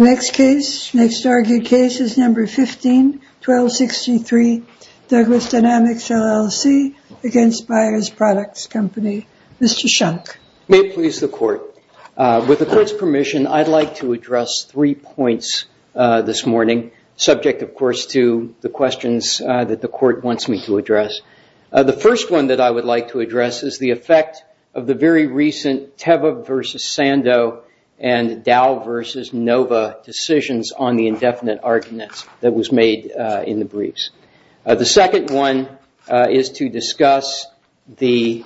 151263 Douglas Dynamics, LLC v. Buyers Products Company Mr. Shunk. May it please the court. With the court's permission, I'd like to address three points this morning, subject, of course, to the questions that the court wants me to address. The first one that I would like to address is the effect of the very recent Teva v. Sando and Dow v. Nova decisions on the indefinite arguments that was made in the briefs. The second one is to discuss the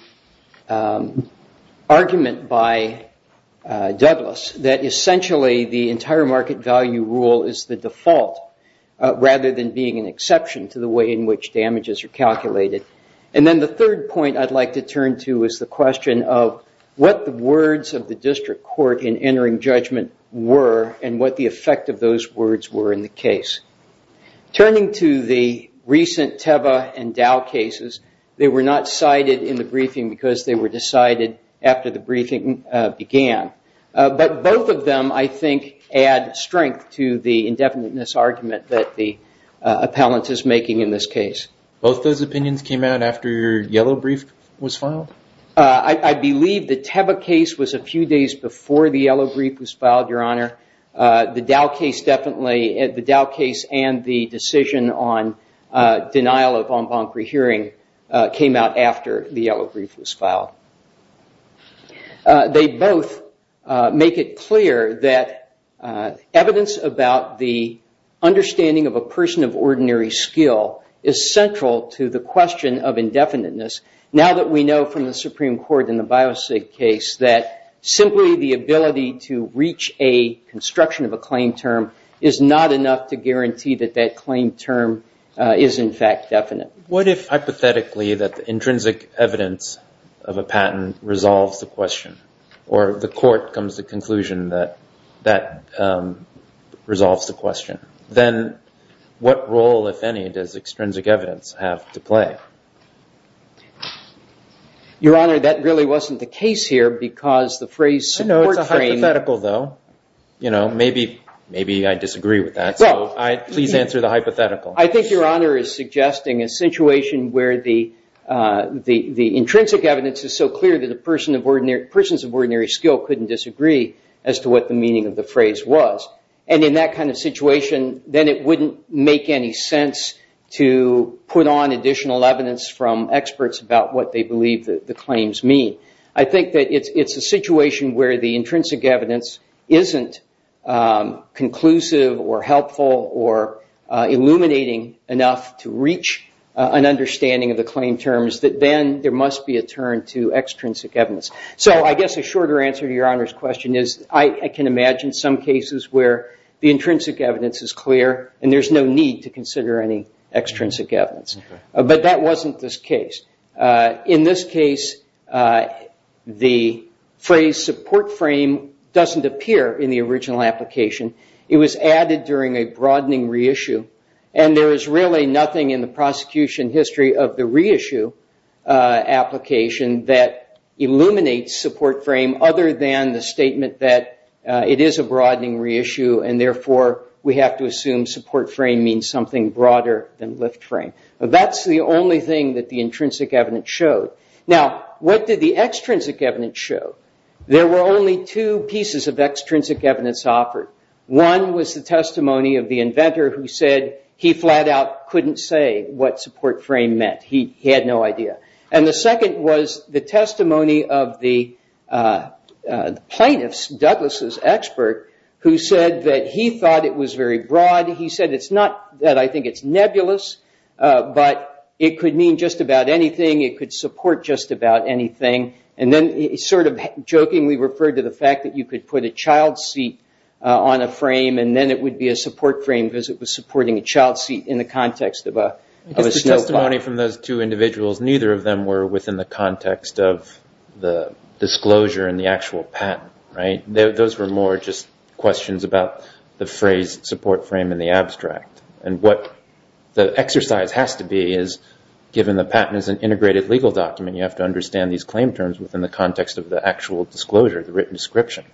argument by Douglas that essentially the entire market value rule is the default rather than being an exception to the way in which damages are calculated. And then the third point I'd like to turn to is the question of what the words of the district court in entering judgment were and what the effect of those words were in the case. Turning to the recent Teva and Dow cases, they were not cited in the briefing because they were decided after the briefing began. But both of them, I think, add strength to the indefiniteness argument that the appellant is making in this case. Both those opinions came out after your yellow brief was filed? I believe the Teva case was a few days before the yellow brief was filed, Your Honor. The Dow case definitely, the Dow case and the decision on denial of en banc rehearing came out after the yellow brief was filed. They both make it clear that evidence about the understanding of a person of ordinary skill is central to the question of indefiniteness now that we know from the Supreme Court in the Biosig case that simply the ability to reach a construction of a claim term is not enough to guarantee that that claim term is, in fact, definite. What if, hypothetically, that the intrinsic evidence of a patent resolves the question, or the court comes to the conclusion that that resolves the question? Then what role, if any, does extrinsic evidence have to play? Your Honor, that really wasn't the case here because the phrase support frame. It's a hypothetical, though. Maybe I disagree with that, so please answer the hypothetical. I think Your Honor is suggesting a situation where the intrinsic evidence is so clear that a person of ordinary skill couldn't disagree as to what the meaning of the phrase was. And in that kind of situation, then it wouldn't make any sense to put on additional evidence from experts about what they believe the claims mean. I think that it's a situation where the intrinsic evidence isn't conclusive, or helpful, or illuminating enough to reach an understanding of the claim terms that then there must be a turn to extrinsic evidence. So I guess a shorter answer to Your Honor's question is I can imagine some cases where the intrinsic evidence is clear, and there's no need to consider any extrinsic evidence. But that wasn't this case. In this case, the phrase support frame doesn't appear in the original application. It was added during a broadening reissue. And there is really nothing in the prosecution history of the reissue application that illuminates support frame other than the statement that it is a broadening reissue. And therefore, we have to assume support frame means something broader than lift frame. That's the only thing that the intrinsic evidence showed. Now, what did the extrinsic evidence show? There were only two pieces of extrinsic evidence offered. One was the testimony of the inventor who said he flat out couldn't say what support frame meant. He had no idea. And the second was the testimony of the plaintiffs, Douglas's expert, who said that he thought it was very broad. He said it's not that I think it's nebulous, but it could mean just about anything. It could support just about anything. And then he sort of jokingly referred to the fact that you could put a child seat on a frame, and then it would be a support frame because it was supporting a child seat in the context of a snowplow. I guess the testimony from those two individuals, neither of them were within the context of the disclosure and the actual patent. Those were more just questions about the phrase support frame and the abstract. And what the exercise has to be is, given the patent is an integrated legal document, you have to understand these claim terms within the context of the actual disclosure, the written description.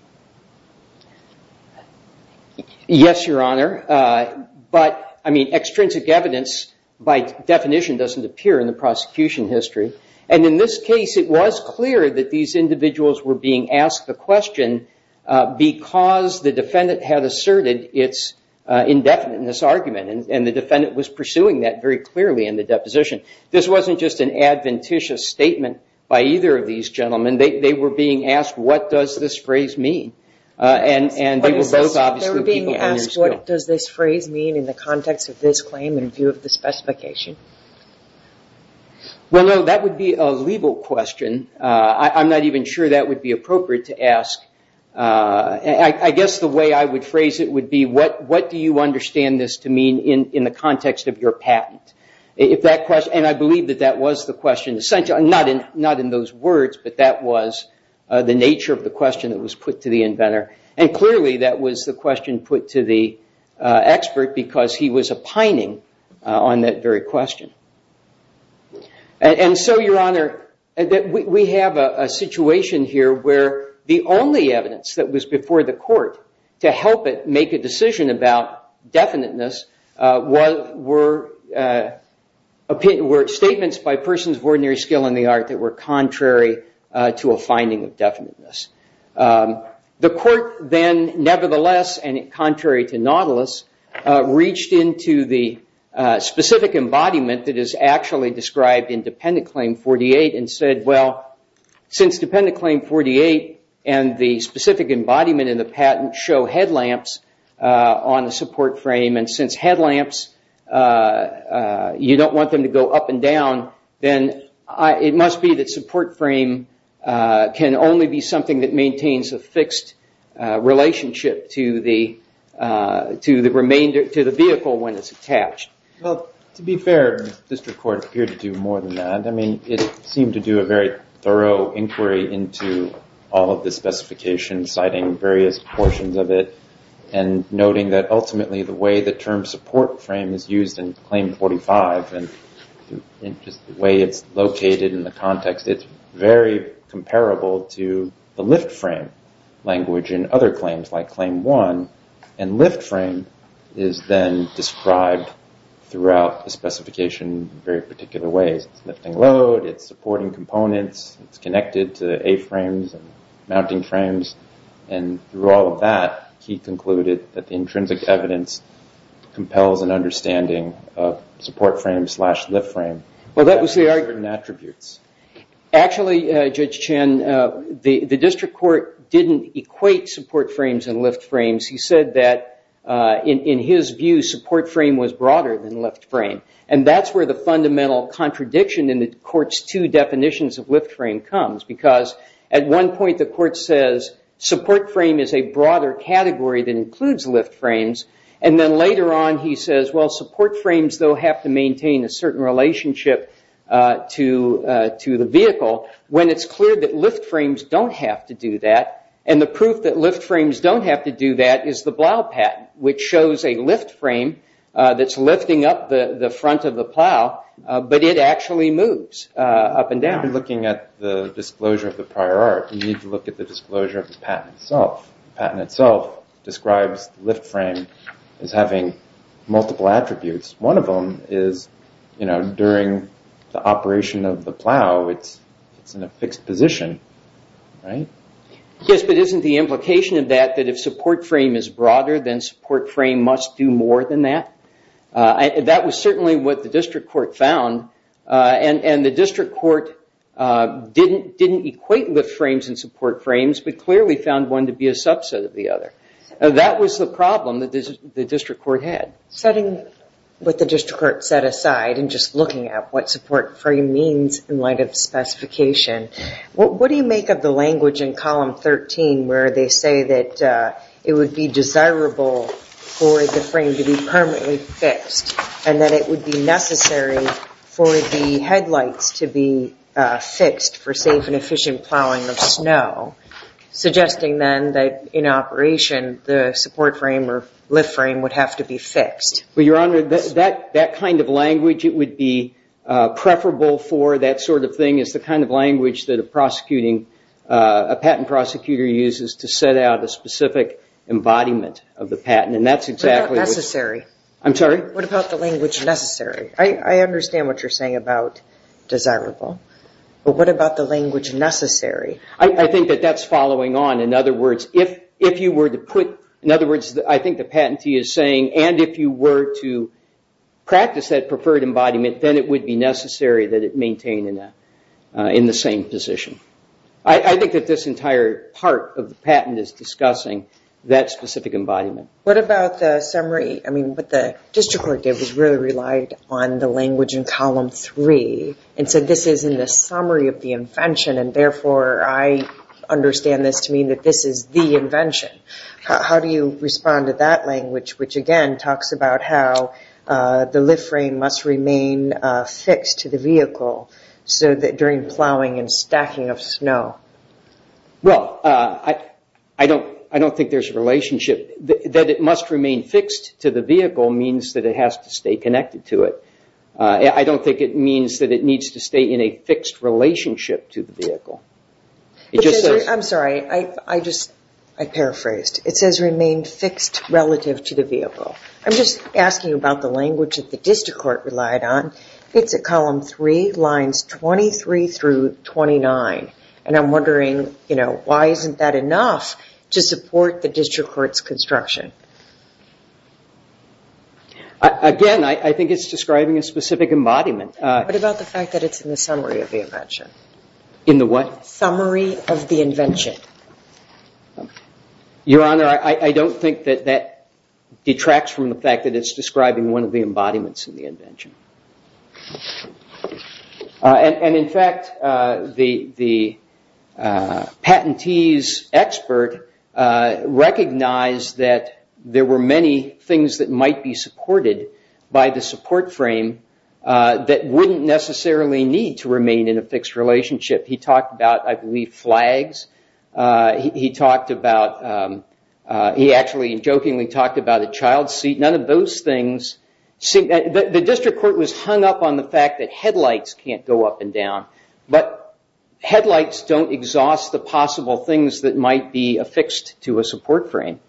Yes, Your Honor. But I mean, extrinsic evidence, by definition, doesn't appear in the prosecution history. And in this case, it was clear that these individuals were being asked the question because the defendant had argument, and the defendant was pursuing that very clearly in the deposition. This wasn't just an adventitious statement by either of these gentlemen. They were being asked, what does this phrase mean? And they were both obviously people in their school. They were being asked, what does this phrase mean in the context of this claim in view of the specification? Well, no, that would be a legal question. I'm not even sure that would be appropriate to ask. I guess the way I would phrase it would be, what do you understand this to mean in the context of your patent? And I believe that that was the question, not in those words, but that was the nature of the question that was put to the inventor. And clearly, that was the question put to the expert because he was opining on that very question. And so, Your Honor, we have a situation here where the only evidence that was before the court to help it make a decision about definiteness were statements by persons of ordinary skill in the art that were contrary to a finding of definiteness. The court then, nevertheless, and contrary to Nautilus, reached into the specific embodiment that is actually described in Dependent Claim 48 and said, well, since Dependent Claim 48 and the specific embodiment in the patent show headlamps on the support frame, and since headlamps, you don't want them to go up and down, then it must be that support frame can only be something that maintains a fixed relationship to the vehicle when it's attached. Well, to be fair, District Court appeared to do more than that. I mean, it seemed to do a very thorough inquiry into all of the specifications, citing various portions of it, and noting that, ultimately, the way the term support frame is used in Claim 45, and just the way it's located in the context, it's very comparable to the lift frame language in other claims, like Claim 1. And lift frame is then described throughout the specification in very particular ways. It's lifting load. It's supporting components. It's connected to A-frames and mounting frames. And through all of that, he concluded that the intrinsic evidence compels an understanding of support frame slash lift frame. Well, that was the argument. Actually, Judge Chen, the District Court didn't equate support frames and lift frames. He said that, in his view, support frame was broader than lift frame. And that's where the fundamental contradiction in the court's two definitions of lift frame comes, because at one point, the court says support frame is a broader category that includes lift frames. And then later on, he says, well, support frames, though, have to maintain a certain relationship to the vehicle, when it's clear that lift frames don't have to do that. And the proof that lift frames don't have to do that is the plow patent, which shows a lift frame that's lifting up the front of the plow. But it actually moves up and down. You're looking at the disclosure of the prior art. You need to look at the disclosure of the patent itself. The patent itself describes lift frame as having multiple attributes. One of them is, during the operation of the plow, it's in a fixed position. Yes, but isn't the implication of that that if support frame is broader, then support frame must do more than that? That was certainly what the district court found. And the district court didn't equate lift frames and support frames, but clearly found one to be a subset of the other. That was the problem that the district court had. Setting what the district court set aside and just looking at what support frame means in light of the specification, what do you make of the language in column 13, where they say that it would be desirable for the frame to be permanently fixed, and that it would be necessary for the headlights to be fixed for safe and efficient plowing of snow, suggesting then that in operation, the support frame or lift frame would have to be fixed? Well, Your Honor, that kind of language it would be preferable for, that sort of thing, is the kind of language that a patent prosecutor uses to set out a specific embodiment of the patent. What about necessary? I'm sorry? What about the language necessary? I understand what you're saying about desirable, but what about the language necessary? I think that that's following on. In other words, I think the patentee is saying, and if you were to practice that preferred embodiment, then it would be necessary that it maintain in the same position. I think that this entire part of the patent is discussing that specific embodiment. What about the summary? I mean, what the district court did was really relied on the language in column three, and said this is in the summary of the invention, and therefore, I understand this to mean that this is the invention. How do you respond to that language, which, again, talks about how the lift frame must remain fixed to the vehicle so that during plowing and stacking of snow? Well, I don't think there's a relationship. That it must remain fixed to the vehicle means that it has to stay connected to it. I don't think it means that it needs to stay in a fixed relationship to the vehicle. I'm sorry, I paraphrased. It says remain fixed relative to the vehicle. I'm just asking about the language that the district court relied on. It's at column three, lines 23 through 29, and I'm wondering why isn't that enough to support the district court's construction? Again, I think it's describing a specific embodiment. What about the fact that it's in the summary of the invention? In the what? Summary of the invention. Your Honor, I don't think that detracts from the fact that it's describing one of the embodiments in the invention. And in fact, the patentee's expert recognized that there were many things that might be supported by the support frame that wouldn't necessarily need to remain in a fixed relationship. He talked about, I believe, flags. He talked about, he actually jokingly talked about a child seat. None of those things seem that the district court was hung up on the fact that headlights can't go up and down, but headlights don't exhaust the possible things that might be affixed to a support frame.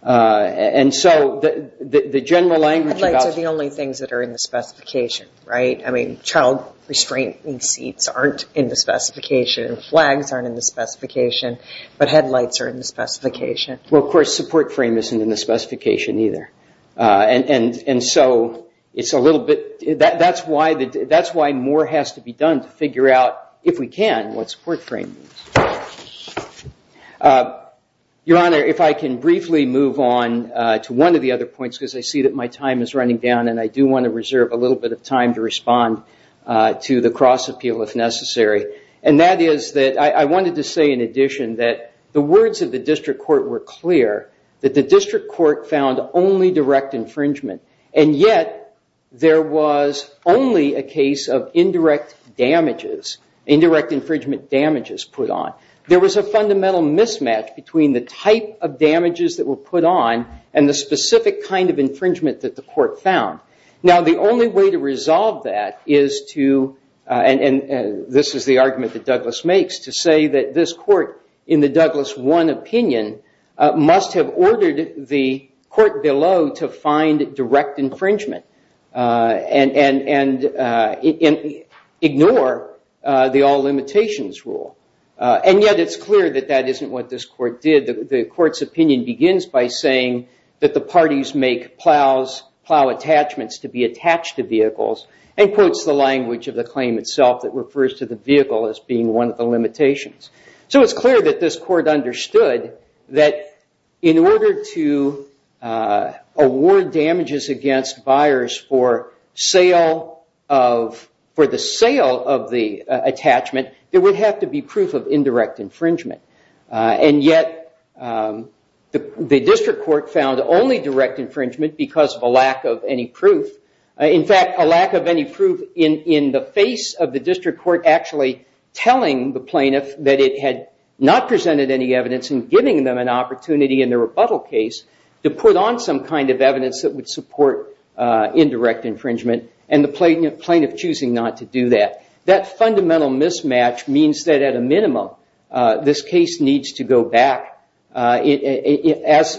And so the general language about- Headlights are the only things that are in the specification, right? I mean, child restraining seats aren't in the specification. Flags aren't in the specification, Well, of course, support frame isn't in the specification either. And so it's a little bit, that's why more has to be done to figure out, if we can, what support frame means. Your Honor, if I can briefly move on to one of the other points, because I see that my time is running down, and I do want to reserve a little bit of time to respond to the cross-appeal if necessary. And that is that I wanted to say, in addition, that the words of the district court were clear, that the district court found only direct infringement. And yet, there was only a case of indirect damages, indirect infringement damages put on. There was a fundamental mismatch between the type of damages that were put on and the specific kind of infringement that the court found. Now, the only way to resolve that is to, and this is the argument that Douglas makes, to say that this court, in the Douglas 1 opinion, must have ordered the court below to find direct infringement and ignore the all limitations rule. And yet, it's clear that that isn't what this court did. The court's opinion begins by saying that the parties make plows, plow attachments to be attached to vehicles, and quotes the language of the claim itself that So it's clear that this court understood that in order to award damages against buyers for the sale of the attachment, there would have to be proof of indirect infringement. And yet, the district court found only direct infringement because of a lack of any proof. In fact, a lack of any proof in the face of the district court actually telling the plaintiff that it had not presented any evidence and giving them an opportunity in the rebuttal case to put on some kind of evidence that would support indirect infringement, and the plaintiff choosing not to do that. That fundamental mismatch means that, at a minimum, this case needs to go back as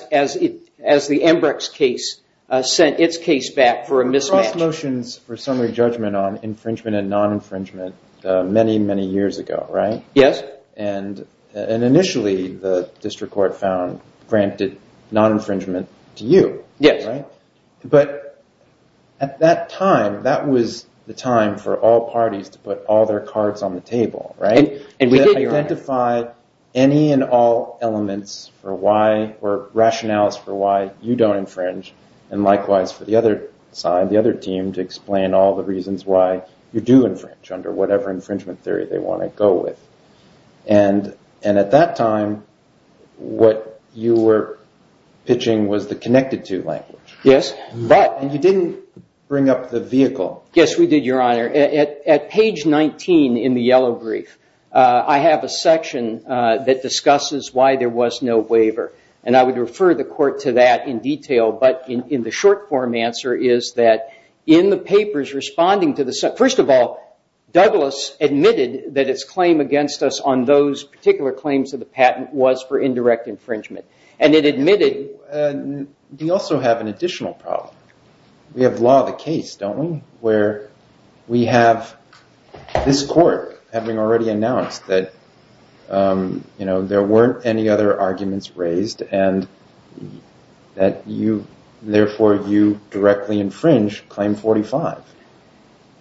the Embrex case sent its case back for a mismatch. Cross motions for summary judgment on infringement and non-infringement many, many years ago, right? Yes. And initially, the district court found granted non-infringement to you. Yes. But at that time, that was the time for all parties to put all their cards on the table, right? And we did, your honor. Identify any and all elements or rationales for why you don't infringe, and likewise for the other side, the other team, to explain all the reasons why you do infringe under whatever infringement theory they want to go with. And at that time, what you were pitching was the connected to language. Yes. But you didn't bring up the vehicle. Yes, we did, your honor. At page 19 in the yellow brief, I have a section that discusses why there was no waiver. And I would refer the court to that in detail. But in the short form answer is that in the papers responding to the set, first of all, Douglas admitted that its claim against us on those particular claims of the patent was for indirect infringement. And it admitted. We also have an additional problem. We have law of the case, don't we, where we have this court having already announced that there weren't any other arguments raised and that you, therefore, you directly infringe Claim 45.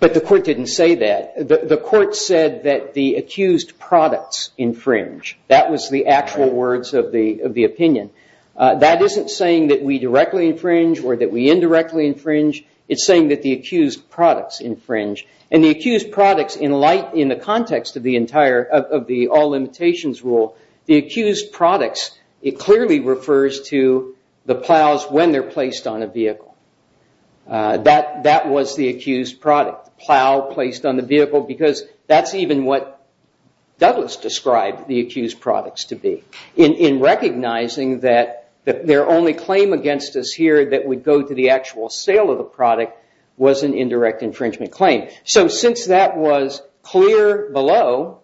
But the court didn't say that. The court said that the accused products infringe. That was the actual words of the opinion. That isn't saying that we directly infringe or that we indirectly infringe. It's saying that the accused products infringe. And the accused products, in the context of the all limitations rule, the accused products, it clearly refers to the plows when they're placed on a vehicle. That was the accused product, the plow placed on the vehicle. Because that's even what Douglas described the accused products to be in recognizing that their only claim against us here that would go to the actual sale of the product was an indirect infringement claim. So since that was clear below,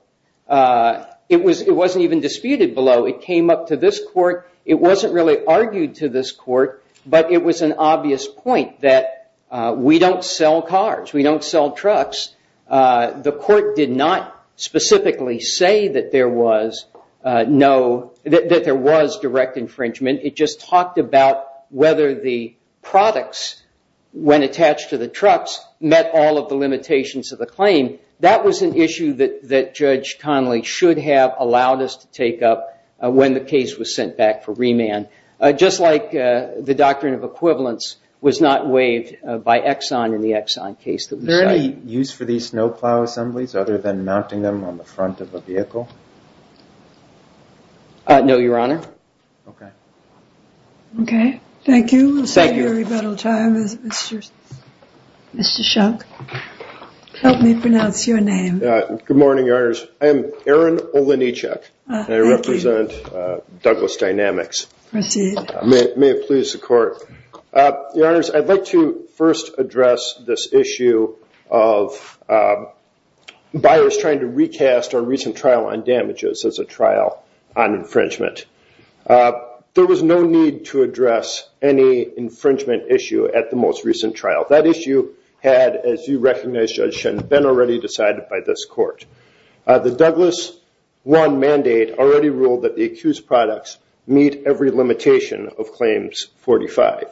it wasn't even disputed below. It came up to this court. It wasn't really argued to this court. But it was an obvious point that we don't sell cars. We don't sell trucks. The court did not specifically say that there was no, that there was direct infringement. It just talked about whether the products, when of the claim, that was an issue that Judge Connolly should have allowed us to take up when the case was sent back for remand. Just like the doctrine of equivalence was not waived by Exxon in the Exxon case that we cited. Is there any use for these snowplow assemblies other than mounting them on the front of a vehicle? No, Your Honor. OK. OK. Thank you. Thank you. At this very bittle time, Mr. Shunk, help me pronounce your name. Good morning, Your Honors. I am Aaron Olenichek, and I represent Douglas Dynamics. Proceed. May it please the court. Your Honors, I'd like to first address this issue of buyers trying to recast our recent trial on damages as a trial on infringement. There was no need to address any infringement issue at the most recent trial. That issue had, as you recognize, Judge Shen, been already decided by this court. The Douglas 1 mandate already ruled that the accused products meet every limitation of claims 45.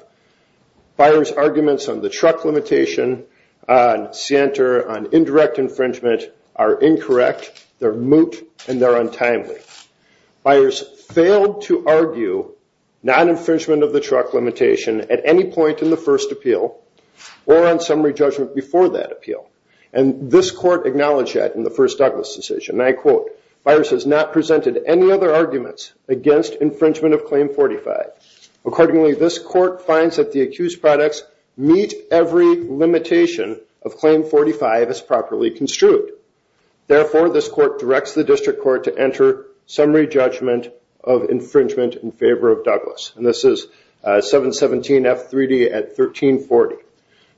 Buyers' arguments on the truck limitation, on Sienter, on indirect infringement are incorrect. They're moot, and they're untimely. Buyers failed to argue non-infringement of the truck limitation at any point in the first appeal or on summary judgment before that appeal. And this court acknowledged that in the first Douglas decision. And I quote, buyers has not presented any other arguments against infringement of claim 45. Accordingly, this court finds that the accused products meet every limitation of claim 45 as properly construed. Therefore, this court directs the district court to enter summary judgment of infringement in favor of Douglas. And this is 717F3D at 1340.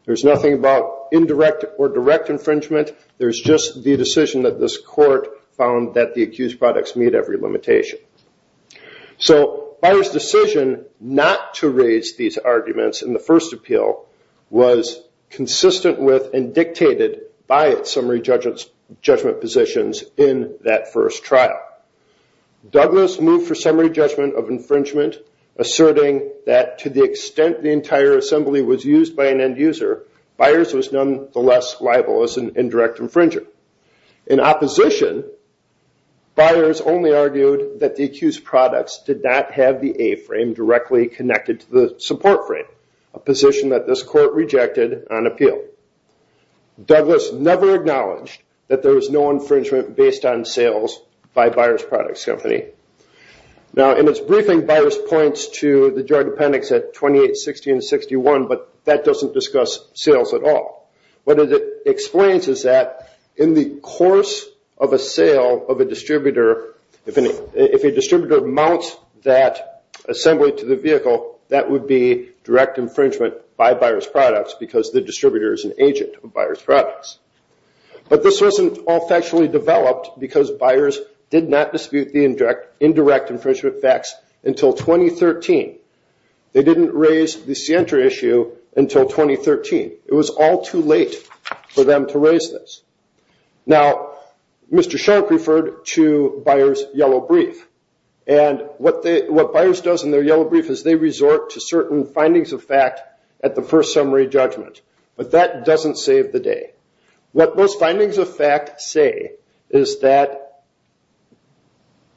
There's nothing about indirect or direct infringement. There's just the decision that this court found that the accused products meet every limitation. So buyers' decision not to raise these arguments in the first appeal was consistent with and dictated by its summary judgment positions in that first trial. Douglas moved for summary judgment of infringement, asserting that to the extent the entire assembly was used by an end user, buyers was nonetheless liable as an indirect infringer. In opposition, buyers only argued that the accused products did not have the A-frame directly connected to the support frame, a position that this court rejected on appeal. Douglas never acknowledged that there was no infringement based on sales by a buyer's products company. Now, in its briefing, buyers points to the drug appendix at 2860 and 61, but that doesn't discuss sales at all. What it explains is that in the course of a sale of a distributor, if a distributor mounts would be direct infringement by buyer's products because the distributor is an agent of buyer's products. But this wasn't all factually developed because buyers did not dispute the indirect infringement facts until 2013. They didn't raise the Sientra issue until 2013. It was all too late for them to raise this. Now, Mr. Sharp referred to buyers' yellow brief. And what buyers does in their yellow brief is they resort to certain findings of fact at the first summary judgment. But that doesn't save the day. What those findings of fact say is that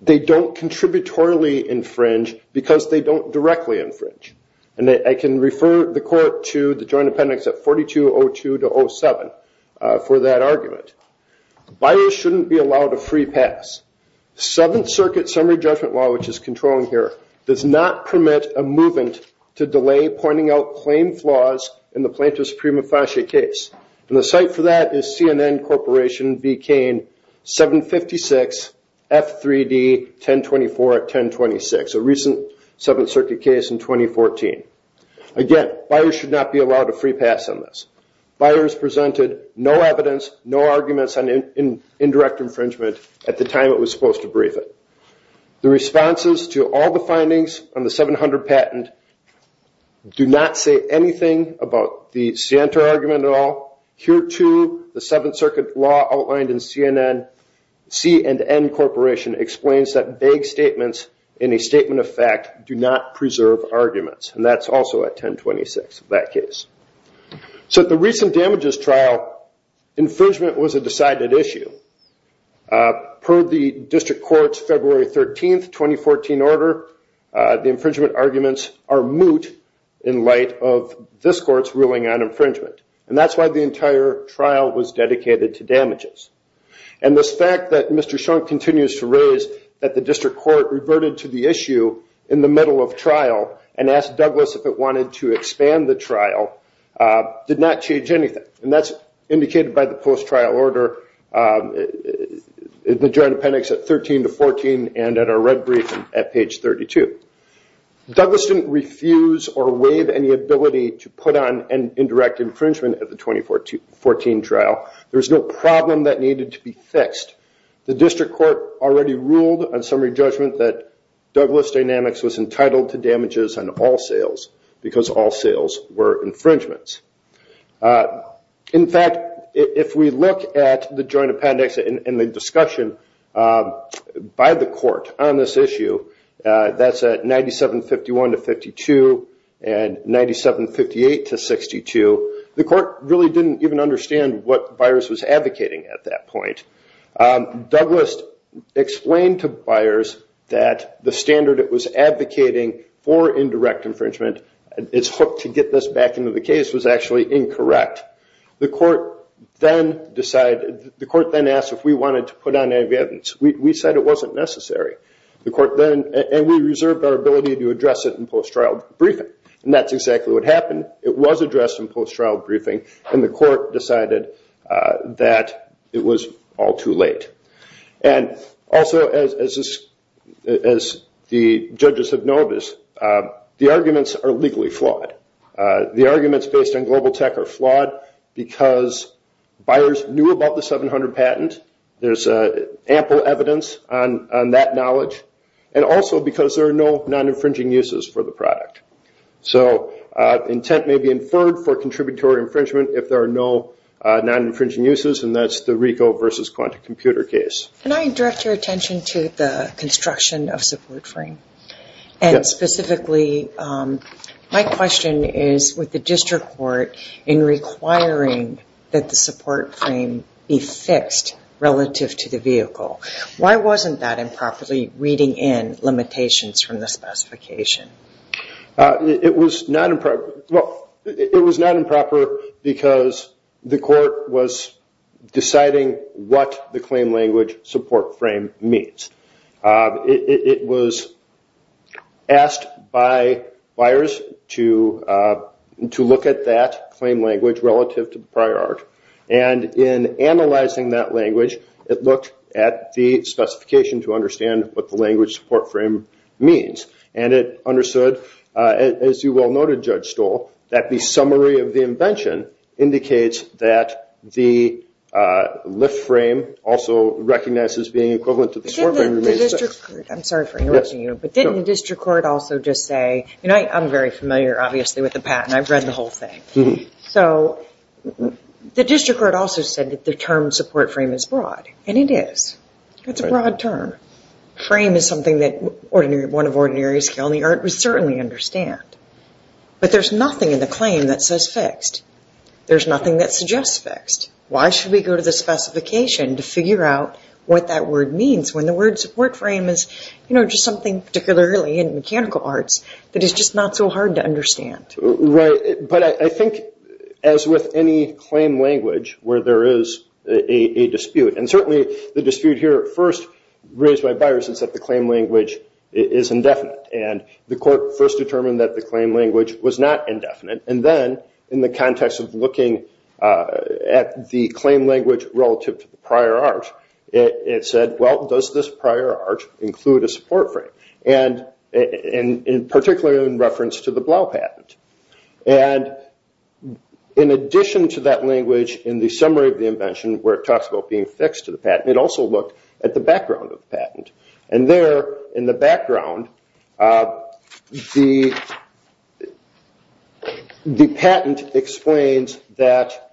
they don't contributorily infringe because they don't directly infringe. And I can refer the court to the joint appendix at 4202 to 07 for that argument. Buyers shouldn't be allowed a free pass. Seventh Circuit summary judgment law, which is controlling here, does not permit a movement to delay pointing out claim flaws in the plaintiff's prima facie case. And the site for that is CNN Corporation, B. Cain, 756 F3D 1024 at 1026, a recent Seventh Circuit case in 2014. Again, buyers should not be allowed a free pass on this. Buyers presented no evidence, no arguments on indirect infringement at the time it was supposed to brief it. The responses to all the findings on the 700 patent do not say anything about the Siento argument at all. Here, too, the Seventh Circuit law outlined in CNN, C&N Corporation, explains that vague statements in a statement of fact do not preserve arguments. And that's also at 1026, that case. So at the recent damages trial, infringement was a decided issue. Per the district court's February 13, 2014 order, the infringement arguments are moot in light of this court's ruling on infringement. And that's why the entire trial was dedicated to damages. And this fact that Mr. Schoen continues to raise that the district court reverted to the issue in the middle of trial and asked Douglas if it wanted to expand the trial did not change anything. And that's indicated by the post-trial order in the joint appendix at 13 to 14 and at our red briefing at page 32. Douglas didn't refuse or waive any ability to put on an indirect infringement at the 2014 trial. There was no problem that needed to be fixed. The district court already ruled on summary judgment that Douglas Dynamics was entitled to damages on all sales because all sales were infringements. In fact, if we look at the joint appendix and the discussion by the court on this issue, that's at 9751 to 52 and 9758 to 62, the court really didn't even understand what Byers was advocating at that point. Douglas explained to Byers that the standard it was advocating for indirect infringement, it's hooked to get this back into the case, was actually incorrect. The court then decided, the court then asked if we wanted to put on any evidence. We said it wasn't necessary. The court then, and we reserved our ability to address it in post-trial briefing. And that's exactly what happened. It was addressed in post-trial briefing and the court decided that it was all too late. And also, as the judges have noticed, the arguments are legally flawed. The arguments based on global tech are flawed because Byers knew about the 700 patent. There's ample evidence on that knowledge. And also because there are no non-infringing uses for the product. So intent may be inferred for contributory infringement if there are no non-infringing uses and that's the RICO versus Quanta computer case. Can I direct your attention to the construction of support frame? And specifically, my question is with the district court in requiring that the support frame be fixed relative to the vehicle. Why wasn't that improperly reading in limitations from the specification? It was not improper, well, it was not improper because the court was deciding what the claim language support frame means. It was asked by Byers to look at that claim language relative to the prior art. And in analyzing that language, it looked at the specification to understand what the language support frame means. And it understood, as you well noted Judge Stoll, that the summary of the invention indicates that the lift frame also recognizes being equivalent to the support frame. The district court, I'm sorry for interrupting you, but didn't the district court also just say, you know, I'm very familiar obviously with the patent, I've read the whole thing. So the district court also said that the term support frame is broad and it is. It's a broad term. Frame is something that one of ordinary skill in the art would certainly understand. But there's nothing in the claim that says fixed. There's nothing that suggests fixed. Why should we go to the specification to figure out what that word means when the word support frame is, you know, just something particularly in mechanical arts that is just not so hard to understand? Right. But I think as with any claim language where there is a dispute, and certainly the dispute here first raised by Byers is that the claim language is indefinite. And the court first determined that the claim language was not indefinite. And then in the context of looking at the claim language relative to the prior art, it said, well, does this prior art include a support frame? And particularly in reference to the Blau patent. And in addition to that language in the summary of the invention where it talks about being fixed to the patent, it also looked at the background of the patent. And there in the background, the patent explains that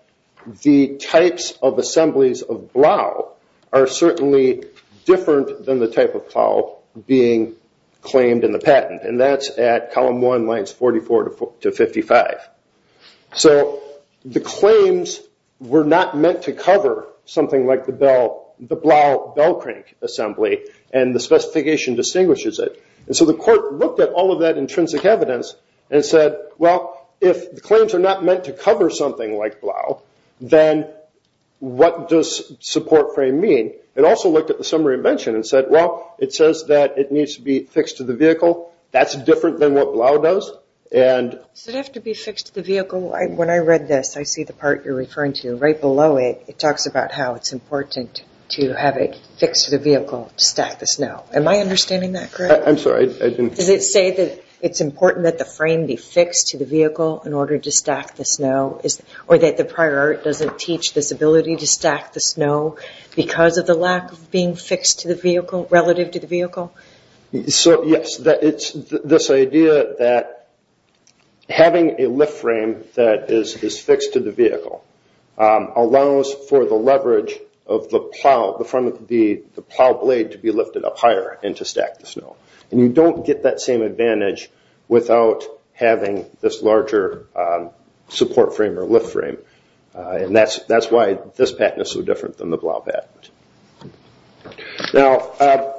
the types of assemblies of Blau are certainly different than the type of Blau being claimed in the patent. And that's at column one, lines 44 to 55. So the claims were not meant to cover something like the Blau bell crank assembly and the specification distinguishes it. And so the court looked at all of that intrinsic evidence and said, well, if the claims are not meant to cover something like Blau, then what does support frame mean? It also looked at the summary of invention and said, well, it says that it needs to be fixed to the vehicle. That's different than what Blau does. And- Does it have to be fixed to the vehicle? When I read this, I see the part you're referring to right below it. It talks about how it's important to have it fixed to the vehicle to stack the snow. Am I understanding that correct? I'm sorry, I didn't- Does it say that it's important that the frame be fixed to the vehicle in order to stack the snow or that the prior art doesn't teach this ability to stack the snow because of the lack of being fixed to the vehicle, relative to the vehicle? So yes, it's this idea that having a lift frame that is fixed to the vehicle allows for the leverage of the plow, the front of the plow blade to be lifted up higher and to stack the snow. And you don't get that same advantage without having this larger support frame or lift frame. And that's why this patent is so different than the Blau patent. Now,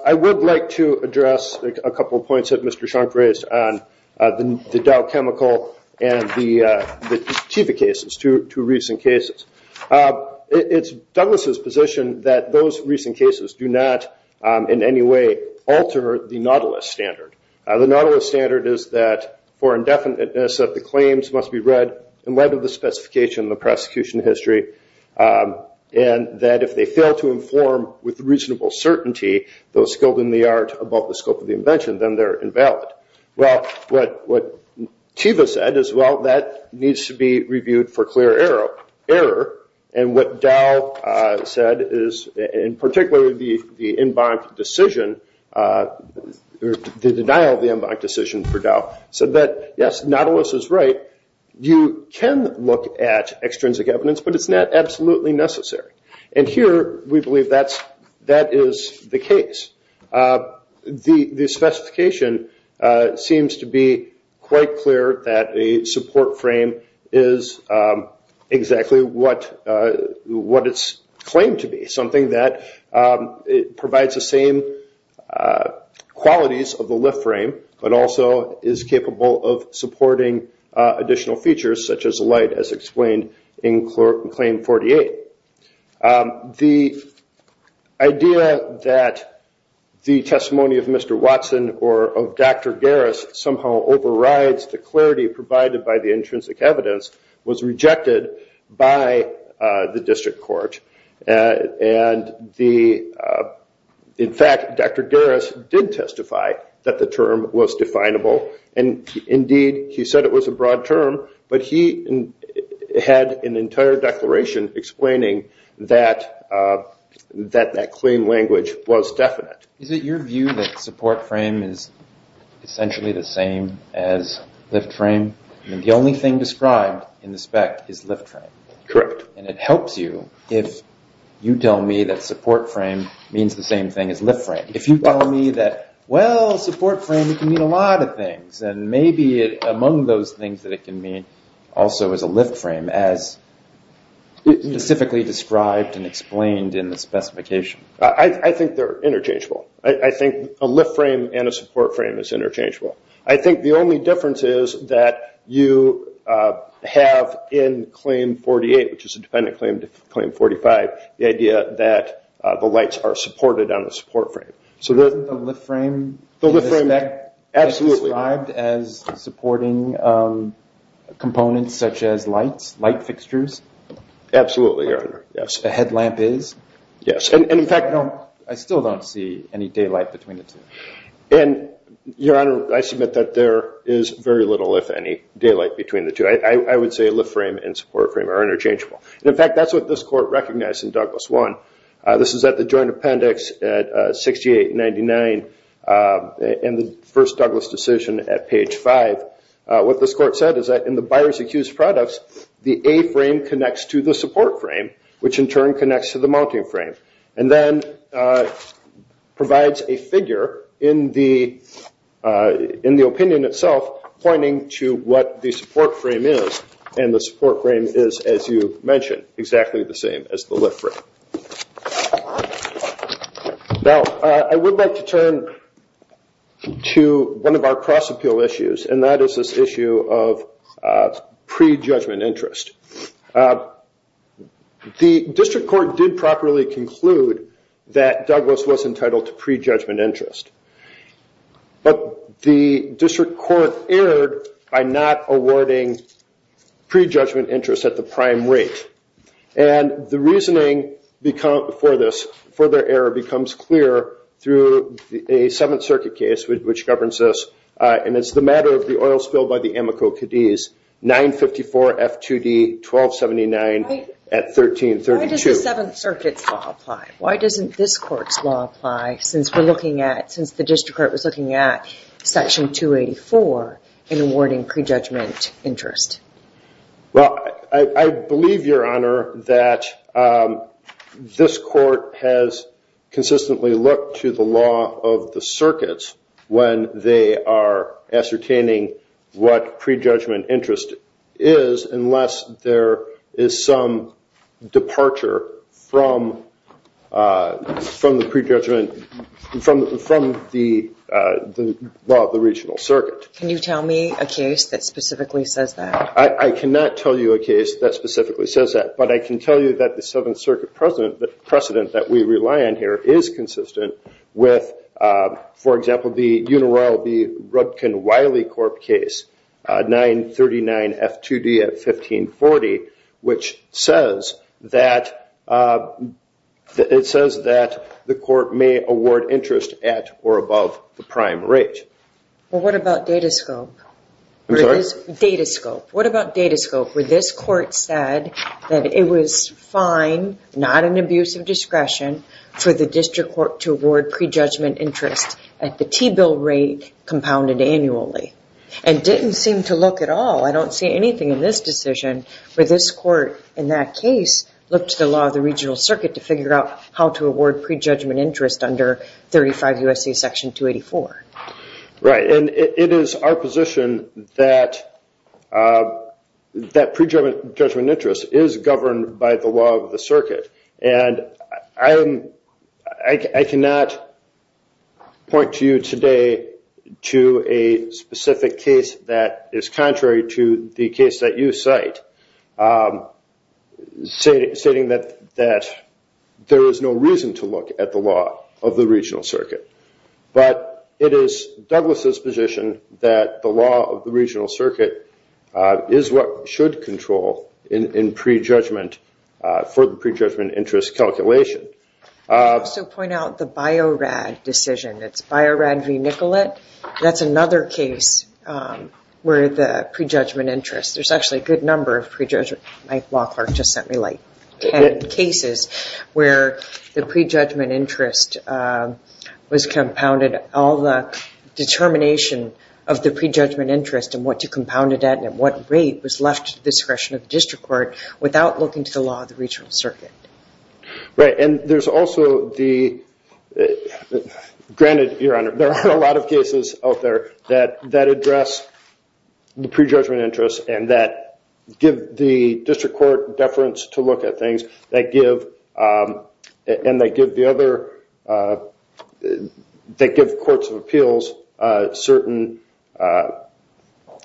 I would like to address a couple of points that Mr. Shank raised on the Dow chemical and the TIVA cases, two recent cases. It's Douglas' position that those recent cases do not in any way alter the Nautilus standard. The Nautilus standard is that for indefiniteness that the claims must be read in light of the specification and the prosecution history. And that if they fail to inform with reasonable certainty those skilled in the art about the scope of the invention, then they're invalid. Well, what TIVA said is, well, that needs to be reviewed for clear error. And what Dow said is, and particularly the in bond decision, the denial of the in bond decision for Dow, said that, yes, Nautilus is right. You can look at extrinsic evidence, but it's not absolutely necessary. And here, we believe that is the case. The specification seems to be quite clear that a support frame is exactly what it's claimed to be, something that provides the same qualities of the lift frame, but also is capable of supporting additional features such as light as explained in Claim 48. The idea that the testimony of Mr. Watson or of Dr. Garris somehow overrides the clarity provided by the intrinsic evidence was rejected by the district court. In fact, Dr. Garris did testify that the term was definable. And indeed, he said it was a broad term, but he had an entire declaration explaining that that claim language was definite. Is it your view that support frame is essentially the same as lift frame? I mean, the only thing described in the spec is lift frame. Correct. And it helps you if you tell me that support frame means the same thing as lift frame. If you tell me that, well, support frame can mean a lot of things, and maybe among those things that it can mean also is a lift frame as specifically described and explained in the specification. I think they're interchangeable. I think a lift frame and a support frame is interchangeable. I think the only difference is that you have in Claim 48, which is a dependent claim to Claim 45, the idea that the lights are supported on the support frame. So the- Isn't the lift frame- The lift frame- as supporting components such as lights, light fixtures? Absolutely, Your Honor. Yes. The headlamp is? Yes, and in fact- I still don't see any daylight between the two. And, Your Honor, I submit that there is very little, if any, daylight between the two. I would say lift frame and support frame are interchangeable. In fact, that's what this Court recognized in Douglas 1. This is at the Joint Appendix at 68-99, in the first Douglas decision at page five. What this Court said is that in the buyer's accused products the A-frame connects to the support frame, which in turn connects to the mounting frame, and then provides a figure in the opinion itself pointing to what the support frame is. And the support frame is, as you mentioned, exactly the same as the lift frame. Now, I would like to turn to one of our cross-appeal issues, and that is this issue of pre-judgment interest. The District Court did properly conclude that Douglas was entitled to pre-judgment interest, but the District Court erred by not awarding pre-judgment interest at the prime rate. And the reasoning for this, for their error, becomes clear through a Seventh Circuit case which governs this, and it's the matter of the oil spill by the Amoco Cadiz, 954 F2D 1279 at 1332. Why does the Seventh Circuit's law apply? Why doesn't this Court's law apply, since the District Court was looking at Section 284 in awarding pre-judgment interest? Well, I believe, Your Honor, that this Court has consistently looked to the law of the circuits when they are ascertaining what pre-judgment interest is, unless there is some departure from the pre-judgment, from the law of the regional circuit. Can you tell me a case that specifically says that? I cannot tell you a case that specifically says that, but I can tell you that the Seventh Circuit precedent that we rely on here is consistent with, for example, the Uniloyal B. Rudkin Wiley Corp case, 939 F2D at 1540, which says that, it says that the Court may award interest at or above the prime rate. Well, what about Datascope? I'm sorry? Datascope. What about Datascope, where this Court said that it was fine, not an abuse of discretion, for the District Court to award pre-judgment interest at the T-bill rate compounded annually, and didn't seem to look at all, I don't see anything in this decision, where this Court, in that case, looked to the law of the regional circuit to figure out how to award pre-judgment interest under 35 U.S.C. Section 284. Right, and it is our position that pre-judgment interest is governed by the law of the circuit, and I cannot point to you today to a specific case that is contrary to the case that you cite, but stating that there is no reason to look at the law of the regional circuit. But it is Douglas' position that the law of the regional circuit is what should control in pre-judgment, for the pre-judgment interest calculation. So point out the Bio-Rad decision. It's Bio-Rad v. Nicolet. That's another case where the pre-judgment interest, there's actually a good number of pre-judgment, my law clerk just sent me light, cases where the pre-judgment interest was compounded, all the determination of the pre-judgment interest and what to compound it at, and at what rate was left to the discretion of the district court without looking to the law of the regional circuit. Right, and there's also the, granted, Your Honor, there are a lot of cases out there that address the pre-judgment interest, and that give the district court deference to look at things, that give, and they give the other, they give courts of appeals certain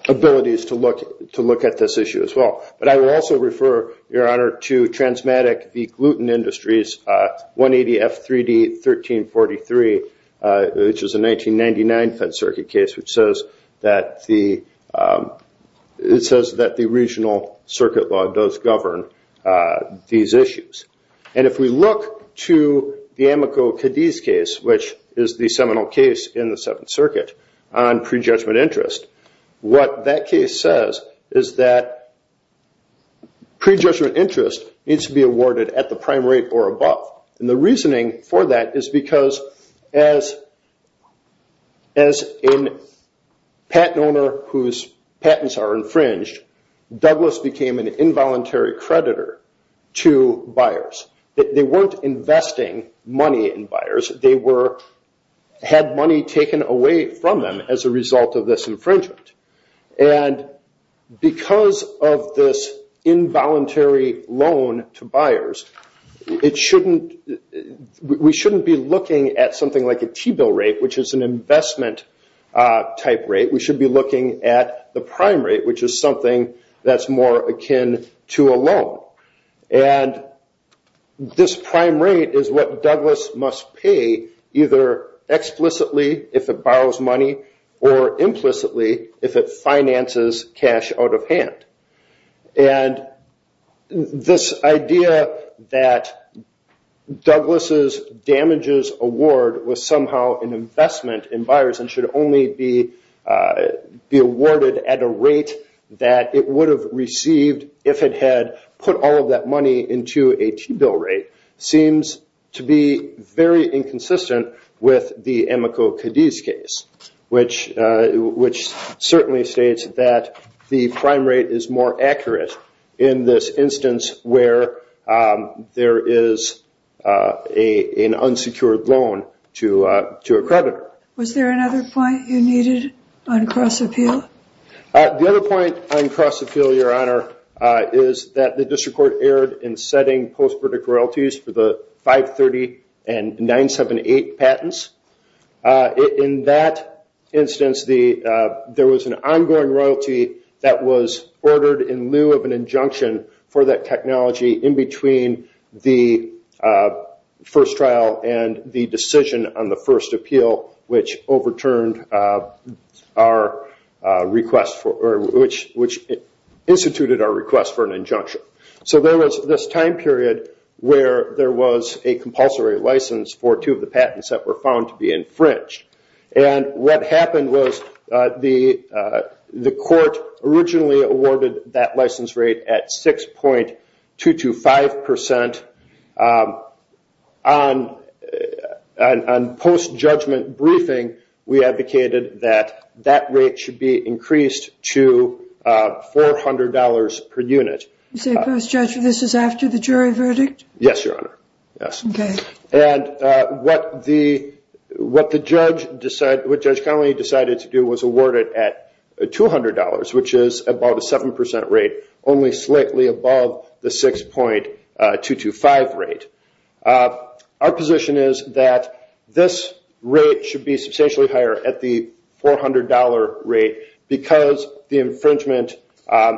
abilities to look at this issue as well. But I will also refer, Your Honor, to Transmatic v. Gluten Industries, 180 F3D 1343, which is a 1999 fed circuit case, which says that the, it says that the regional circuit law does govern these issues. And if we look to the Amico-Cadiz case, which is the seminal case in the Seventh Circuit on pre-judgment interest, what that case says is that pre-judgment interest needs to be awarded at the prime rate or above. And the reasoning for that is because as, as a patent owner whose patents are infringed, Douglas became an involuntary creditor to buyers. They weren't investing money in buyers, they were, had money taken away from them as a result of this infringement. And because of this involuntary loan to buyers, it shouldn't, we shouldn't be looking at something like a T-bill rate, which is an investment type rate. We should be looking at the prime rate, which is something that's more akin to a loan. And this prime rate is what Douglas must pay either explicitly if it borrows money, or implicitly if it finances cash out of hand. And this idea that Douglas's damages award was somehow an investment in buyers and should only be awarded at a rate that it would have received if it had put all of that money into a T-bill rate seems to be very inconsistent with the Emiko Cadiz case, which certainly states that the prime rate is more accurate in this instance where there is an unsecured loan to a creditor. Was there another point you needed on cross appeal? The other point on cross appeal, Your Honor, is that the district court erred in setting post-verdict royalties for the 530 and 978 patents. In that instance, there was an ongoing royalty that was ordered in lieu of an injunction for that technology in between the first trial and the decision on the first appeal, which instituted our request for an injunction. So there was this time period where there was a compulsory license for two of the patents that were found to be infringed. And what happened was the court originally awarded that license rate at 6.225%. On post-judgment briefing, we advocated that that rate should be increased to $400 per unit. You say post-judgment, this is after the jury verdict? Yes, Your Honor, yes. And what the judge decided, what Judge Connolly decided to do was award it at $200, which is about a 7% rate, only slightly above the 6.225 rate. Our position is that this rate should be substantially higher at the $400 rate because the infringement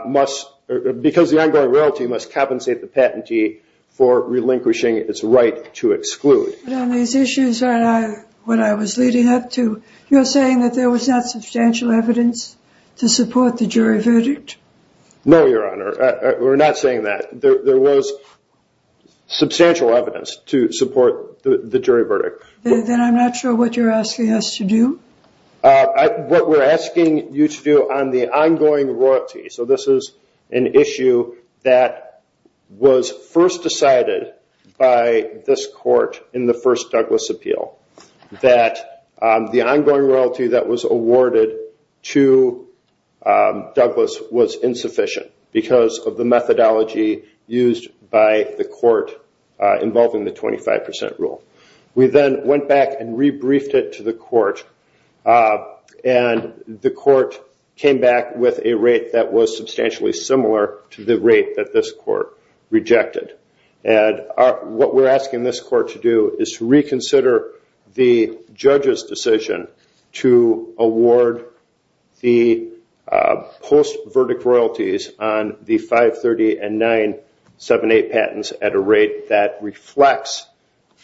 must, because the ongoing royalty must compensate the patentee for relinquishing its right to exclude. But on these issues, Your Honor, when I was leading up to, you're saying that there was not substantial evidence to support the jury verdict? No, Your Honor, we're not saying that. There was substantial evidence to support the jury verdict. Then I'm not sure what you're asking us to do. What we're asking you to do on the ongoing royalty, so this is an issue that was first decided by this court in the first Douglas appeal, that the ongoing royalty that was awarded to Douglas was insufficient because of the methodology used by the court involving the 25% rule. We then went back and rebriefed it to the court, and the court came back with a rate that was substantially similar to the rate that this court rejected. And what we're asking this court to do is to reconsider the judge's decision to award the post-verdict royalties on the 530 and 978 patents at a rate that reflects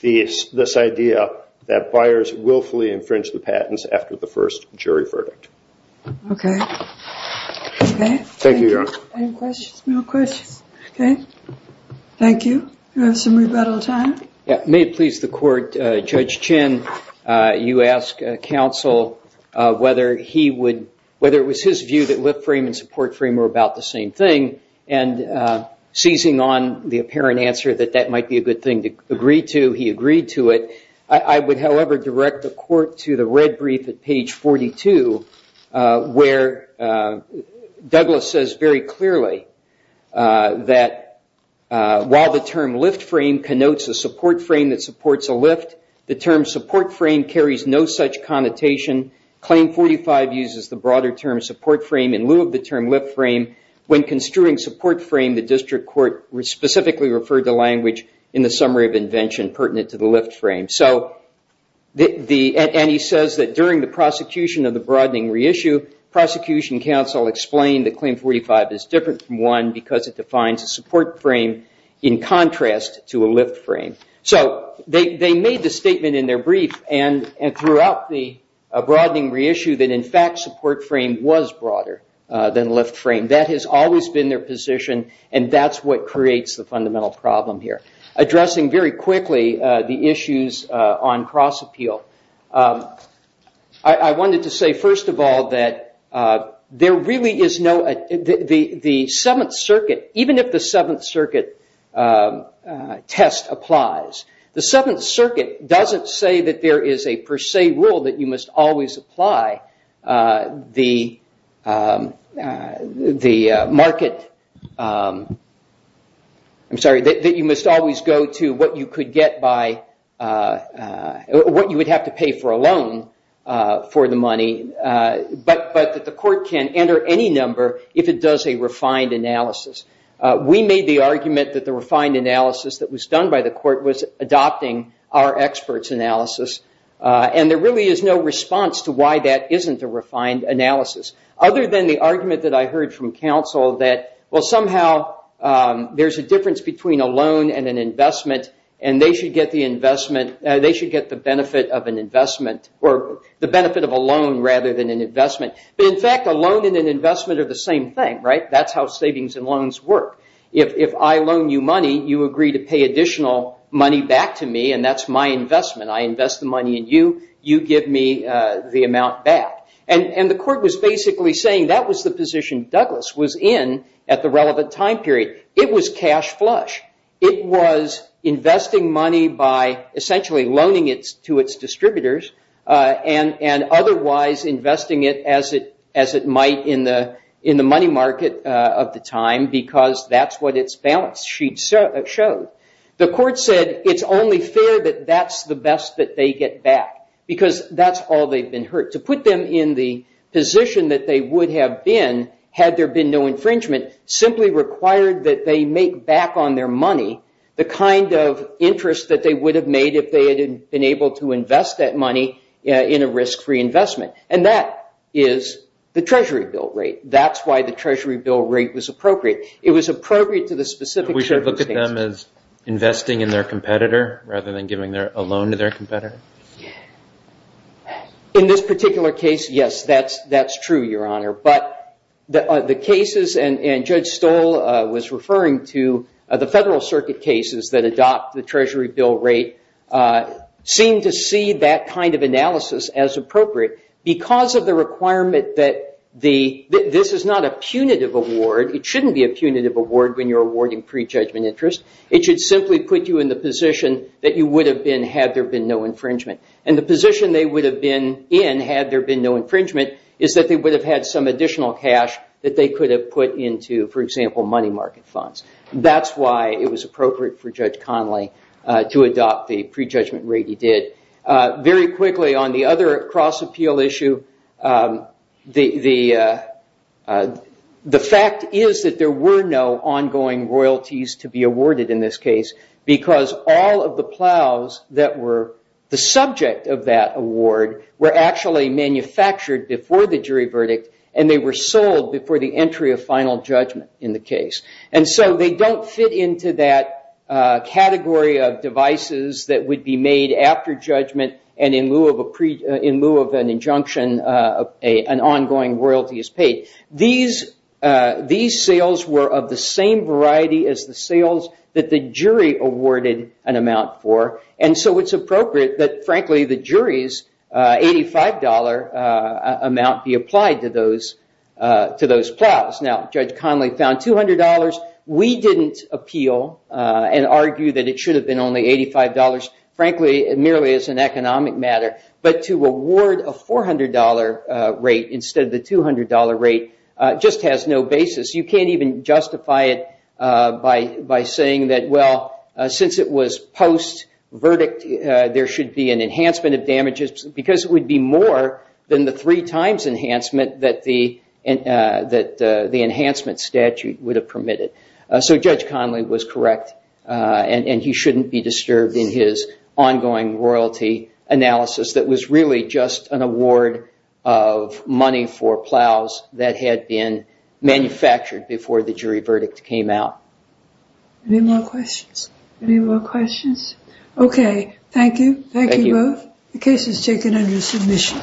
this idea that buyers willfully infringe the patents after the first jury verdict. Okay, okay. Thank you, Your Honor. Any questions? No questions, okay. Thank you. We have some rebuttal time. Yeah, may it please the court, Judge Chin, you ask counsel whether he would, whether it was his view that lift frame and support frame were about the same thing, and seizing on the apparent answer that that might be a good thing to agree to, he agreed to it. I would, however, direct the court to the red brief at page 42, where Douglas says very clearly that while the term lift frame connotes a support frame that supports a lift, the term support frame carries no such connotation. Claim 45 uses the broader term support frame in lieu of the term lift frame. When construing support frame, the district court specifically referred to language in the summary of invention pertinent to the lift frame. So, and he says that during the prosecution of the broadening reissue, prosecution counsel explained that claim 45 is different from one because it defines a support frame in contrast to a lift frame. So, they made the statement in their brief and throughout the broadening reissue that, in fact, support frame was broader than lift frame. That has always been their position, and that's what creates the fundamental problem here. Addressing very quickly the issues on cross appeal, I wanted to say, first of all, that there really is no, the Seventh Circuit, even if the Seventh Circuit test applies, the Seventh Circuit doesn't say that there is a per se rule that you must always apply the market, I'm sorry, that you must always go to what you could get by, what you would have to pay for a loan for the money, but that the court can enter any number if it does a refined analysis. We made the argument that the refined analysis that was done by the court was adopting our expert's analysis, and there really is no response to why that isn't a refined analysis, other than the argument that I heard from counsel that, well, somehow there's a difference between a loan and an investment, and they should get the investment, they should get the benefit of an investment, or the benefit of a loan rather than an investment. But in fact, a loan and an investment are the same thing, right, that's how savings and loans work. If I loan you money, you agree to pay additional money back to me, and that's my investment, I invest the money in you, you give me the amount back. And the court was basically saying that was the position Douglas was in at the relevant time period. It was cash flush. It was investing money by essentially loaning it to its distributors, and otherwise investing it as it might in the money market of the time, because that's what its balance sheet showed. The court said it's only fair that that's the best that they get back, because that's all they've been hurt. To put them in the position that they would have been, had there been no infringement, simply required that they make back on their money the kind of interest that they would have made if they had been able to invest that money in a risk-free investment, and that is the Treasury bill rate. That's why the Treasury bill rate was appropriate. It was appropriate to the specific circumstances. We should look at them as investing in their competitor rather than giving a loan to their competitor? In this particular case, yes, that's true, Your Honor, but the cases, and Judge Stoll was referring to the Federal Circuit cases that adopt the Treasury bill rate, seem to see that kind of analysis as appropriate because of the requirement that this is not a punitive award. It shouldn't be a punitive award when you're awarding prejudgment interest. It should simply put you in the position that you would have been had there been no infringement, and the position they would have been in had there been no infringement is that they would have had some additional cash that they could have put into, for example, money market funds. That's why it was appropriate for Judge Connolly to adopt the prejudgment rate he did. Very quickly, on the other cross-appeal issue, the fact is that there were no ongoing royalties to be awarded in this case because all of the plows that were the subject of that award were actually manufactured before the jury verdict, and they were sold before the entry of final judgment in the case. They don't fit into that category of devices that would be made after judgment, and in lieu of an injunction, an ongoing royalty is paid. These sales were of the same variety as the sales that the jury awarded an amount for, and so it's appropriate that, frankly, the jury's $85 amount be applied to those plows. Now, Judge Connolly found $200. We didn't appeal and argue that it should have been only $85. Frankly, it merely is an economic matter, but to award a $400 rate instead of the $200 rate just has no basis. You can't even justify it by saying that, well, since it was post-verdict, there should be an enhancement of damages because it would be more than the three-times enhancement that the enhancement statute would have permitted. So Judge Connolly was correct, and he shouldn't be disturbed in his ongoing royalty analysis that was really just an award of money for plows that had been manufactured before the jury verdict came out. Any more questions? Any more questions? OK. Thank you. Thank you both. The case is taken under submission.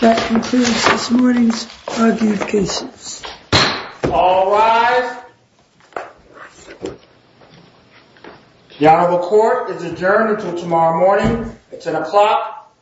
That concludes this morning's argument of cases. All rise. The Honorable Court is adjourned until tomorrow morning. It's 10 o'clock AM.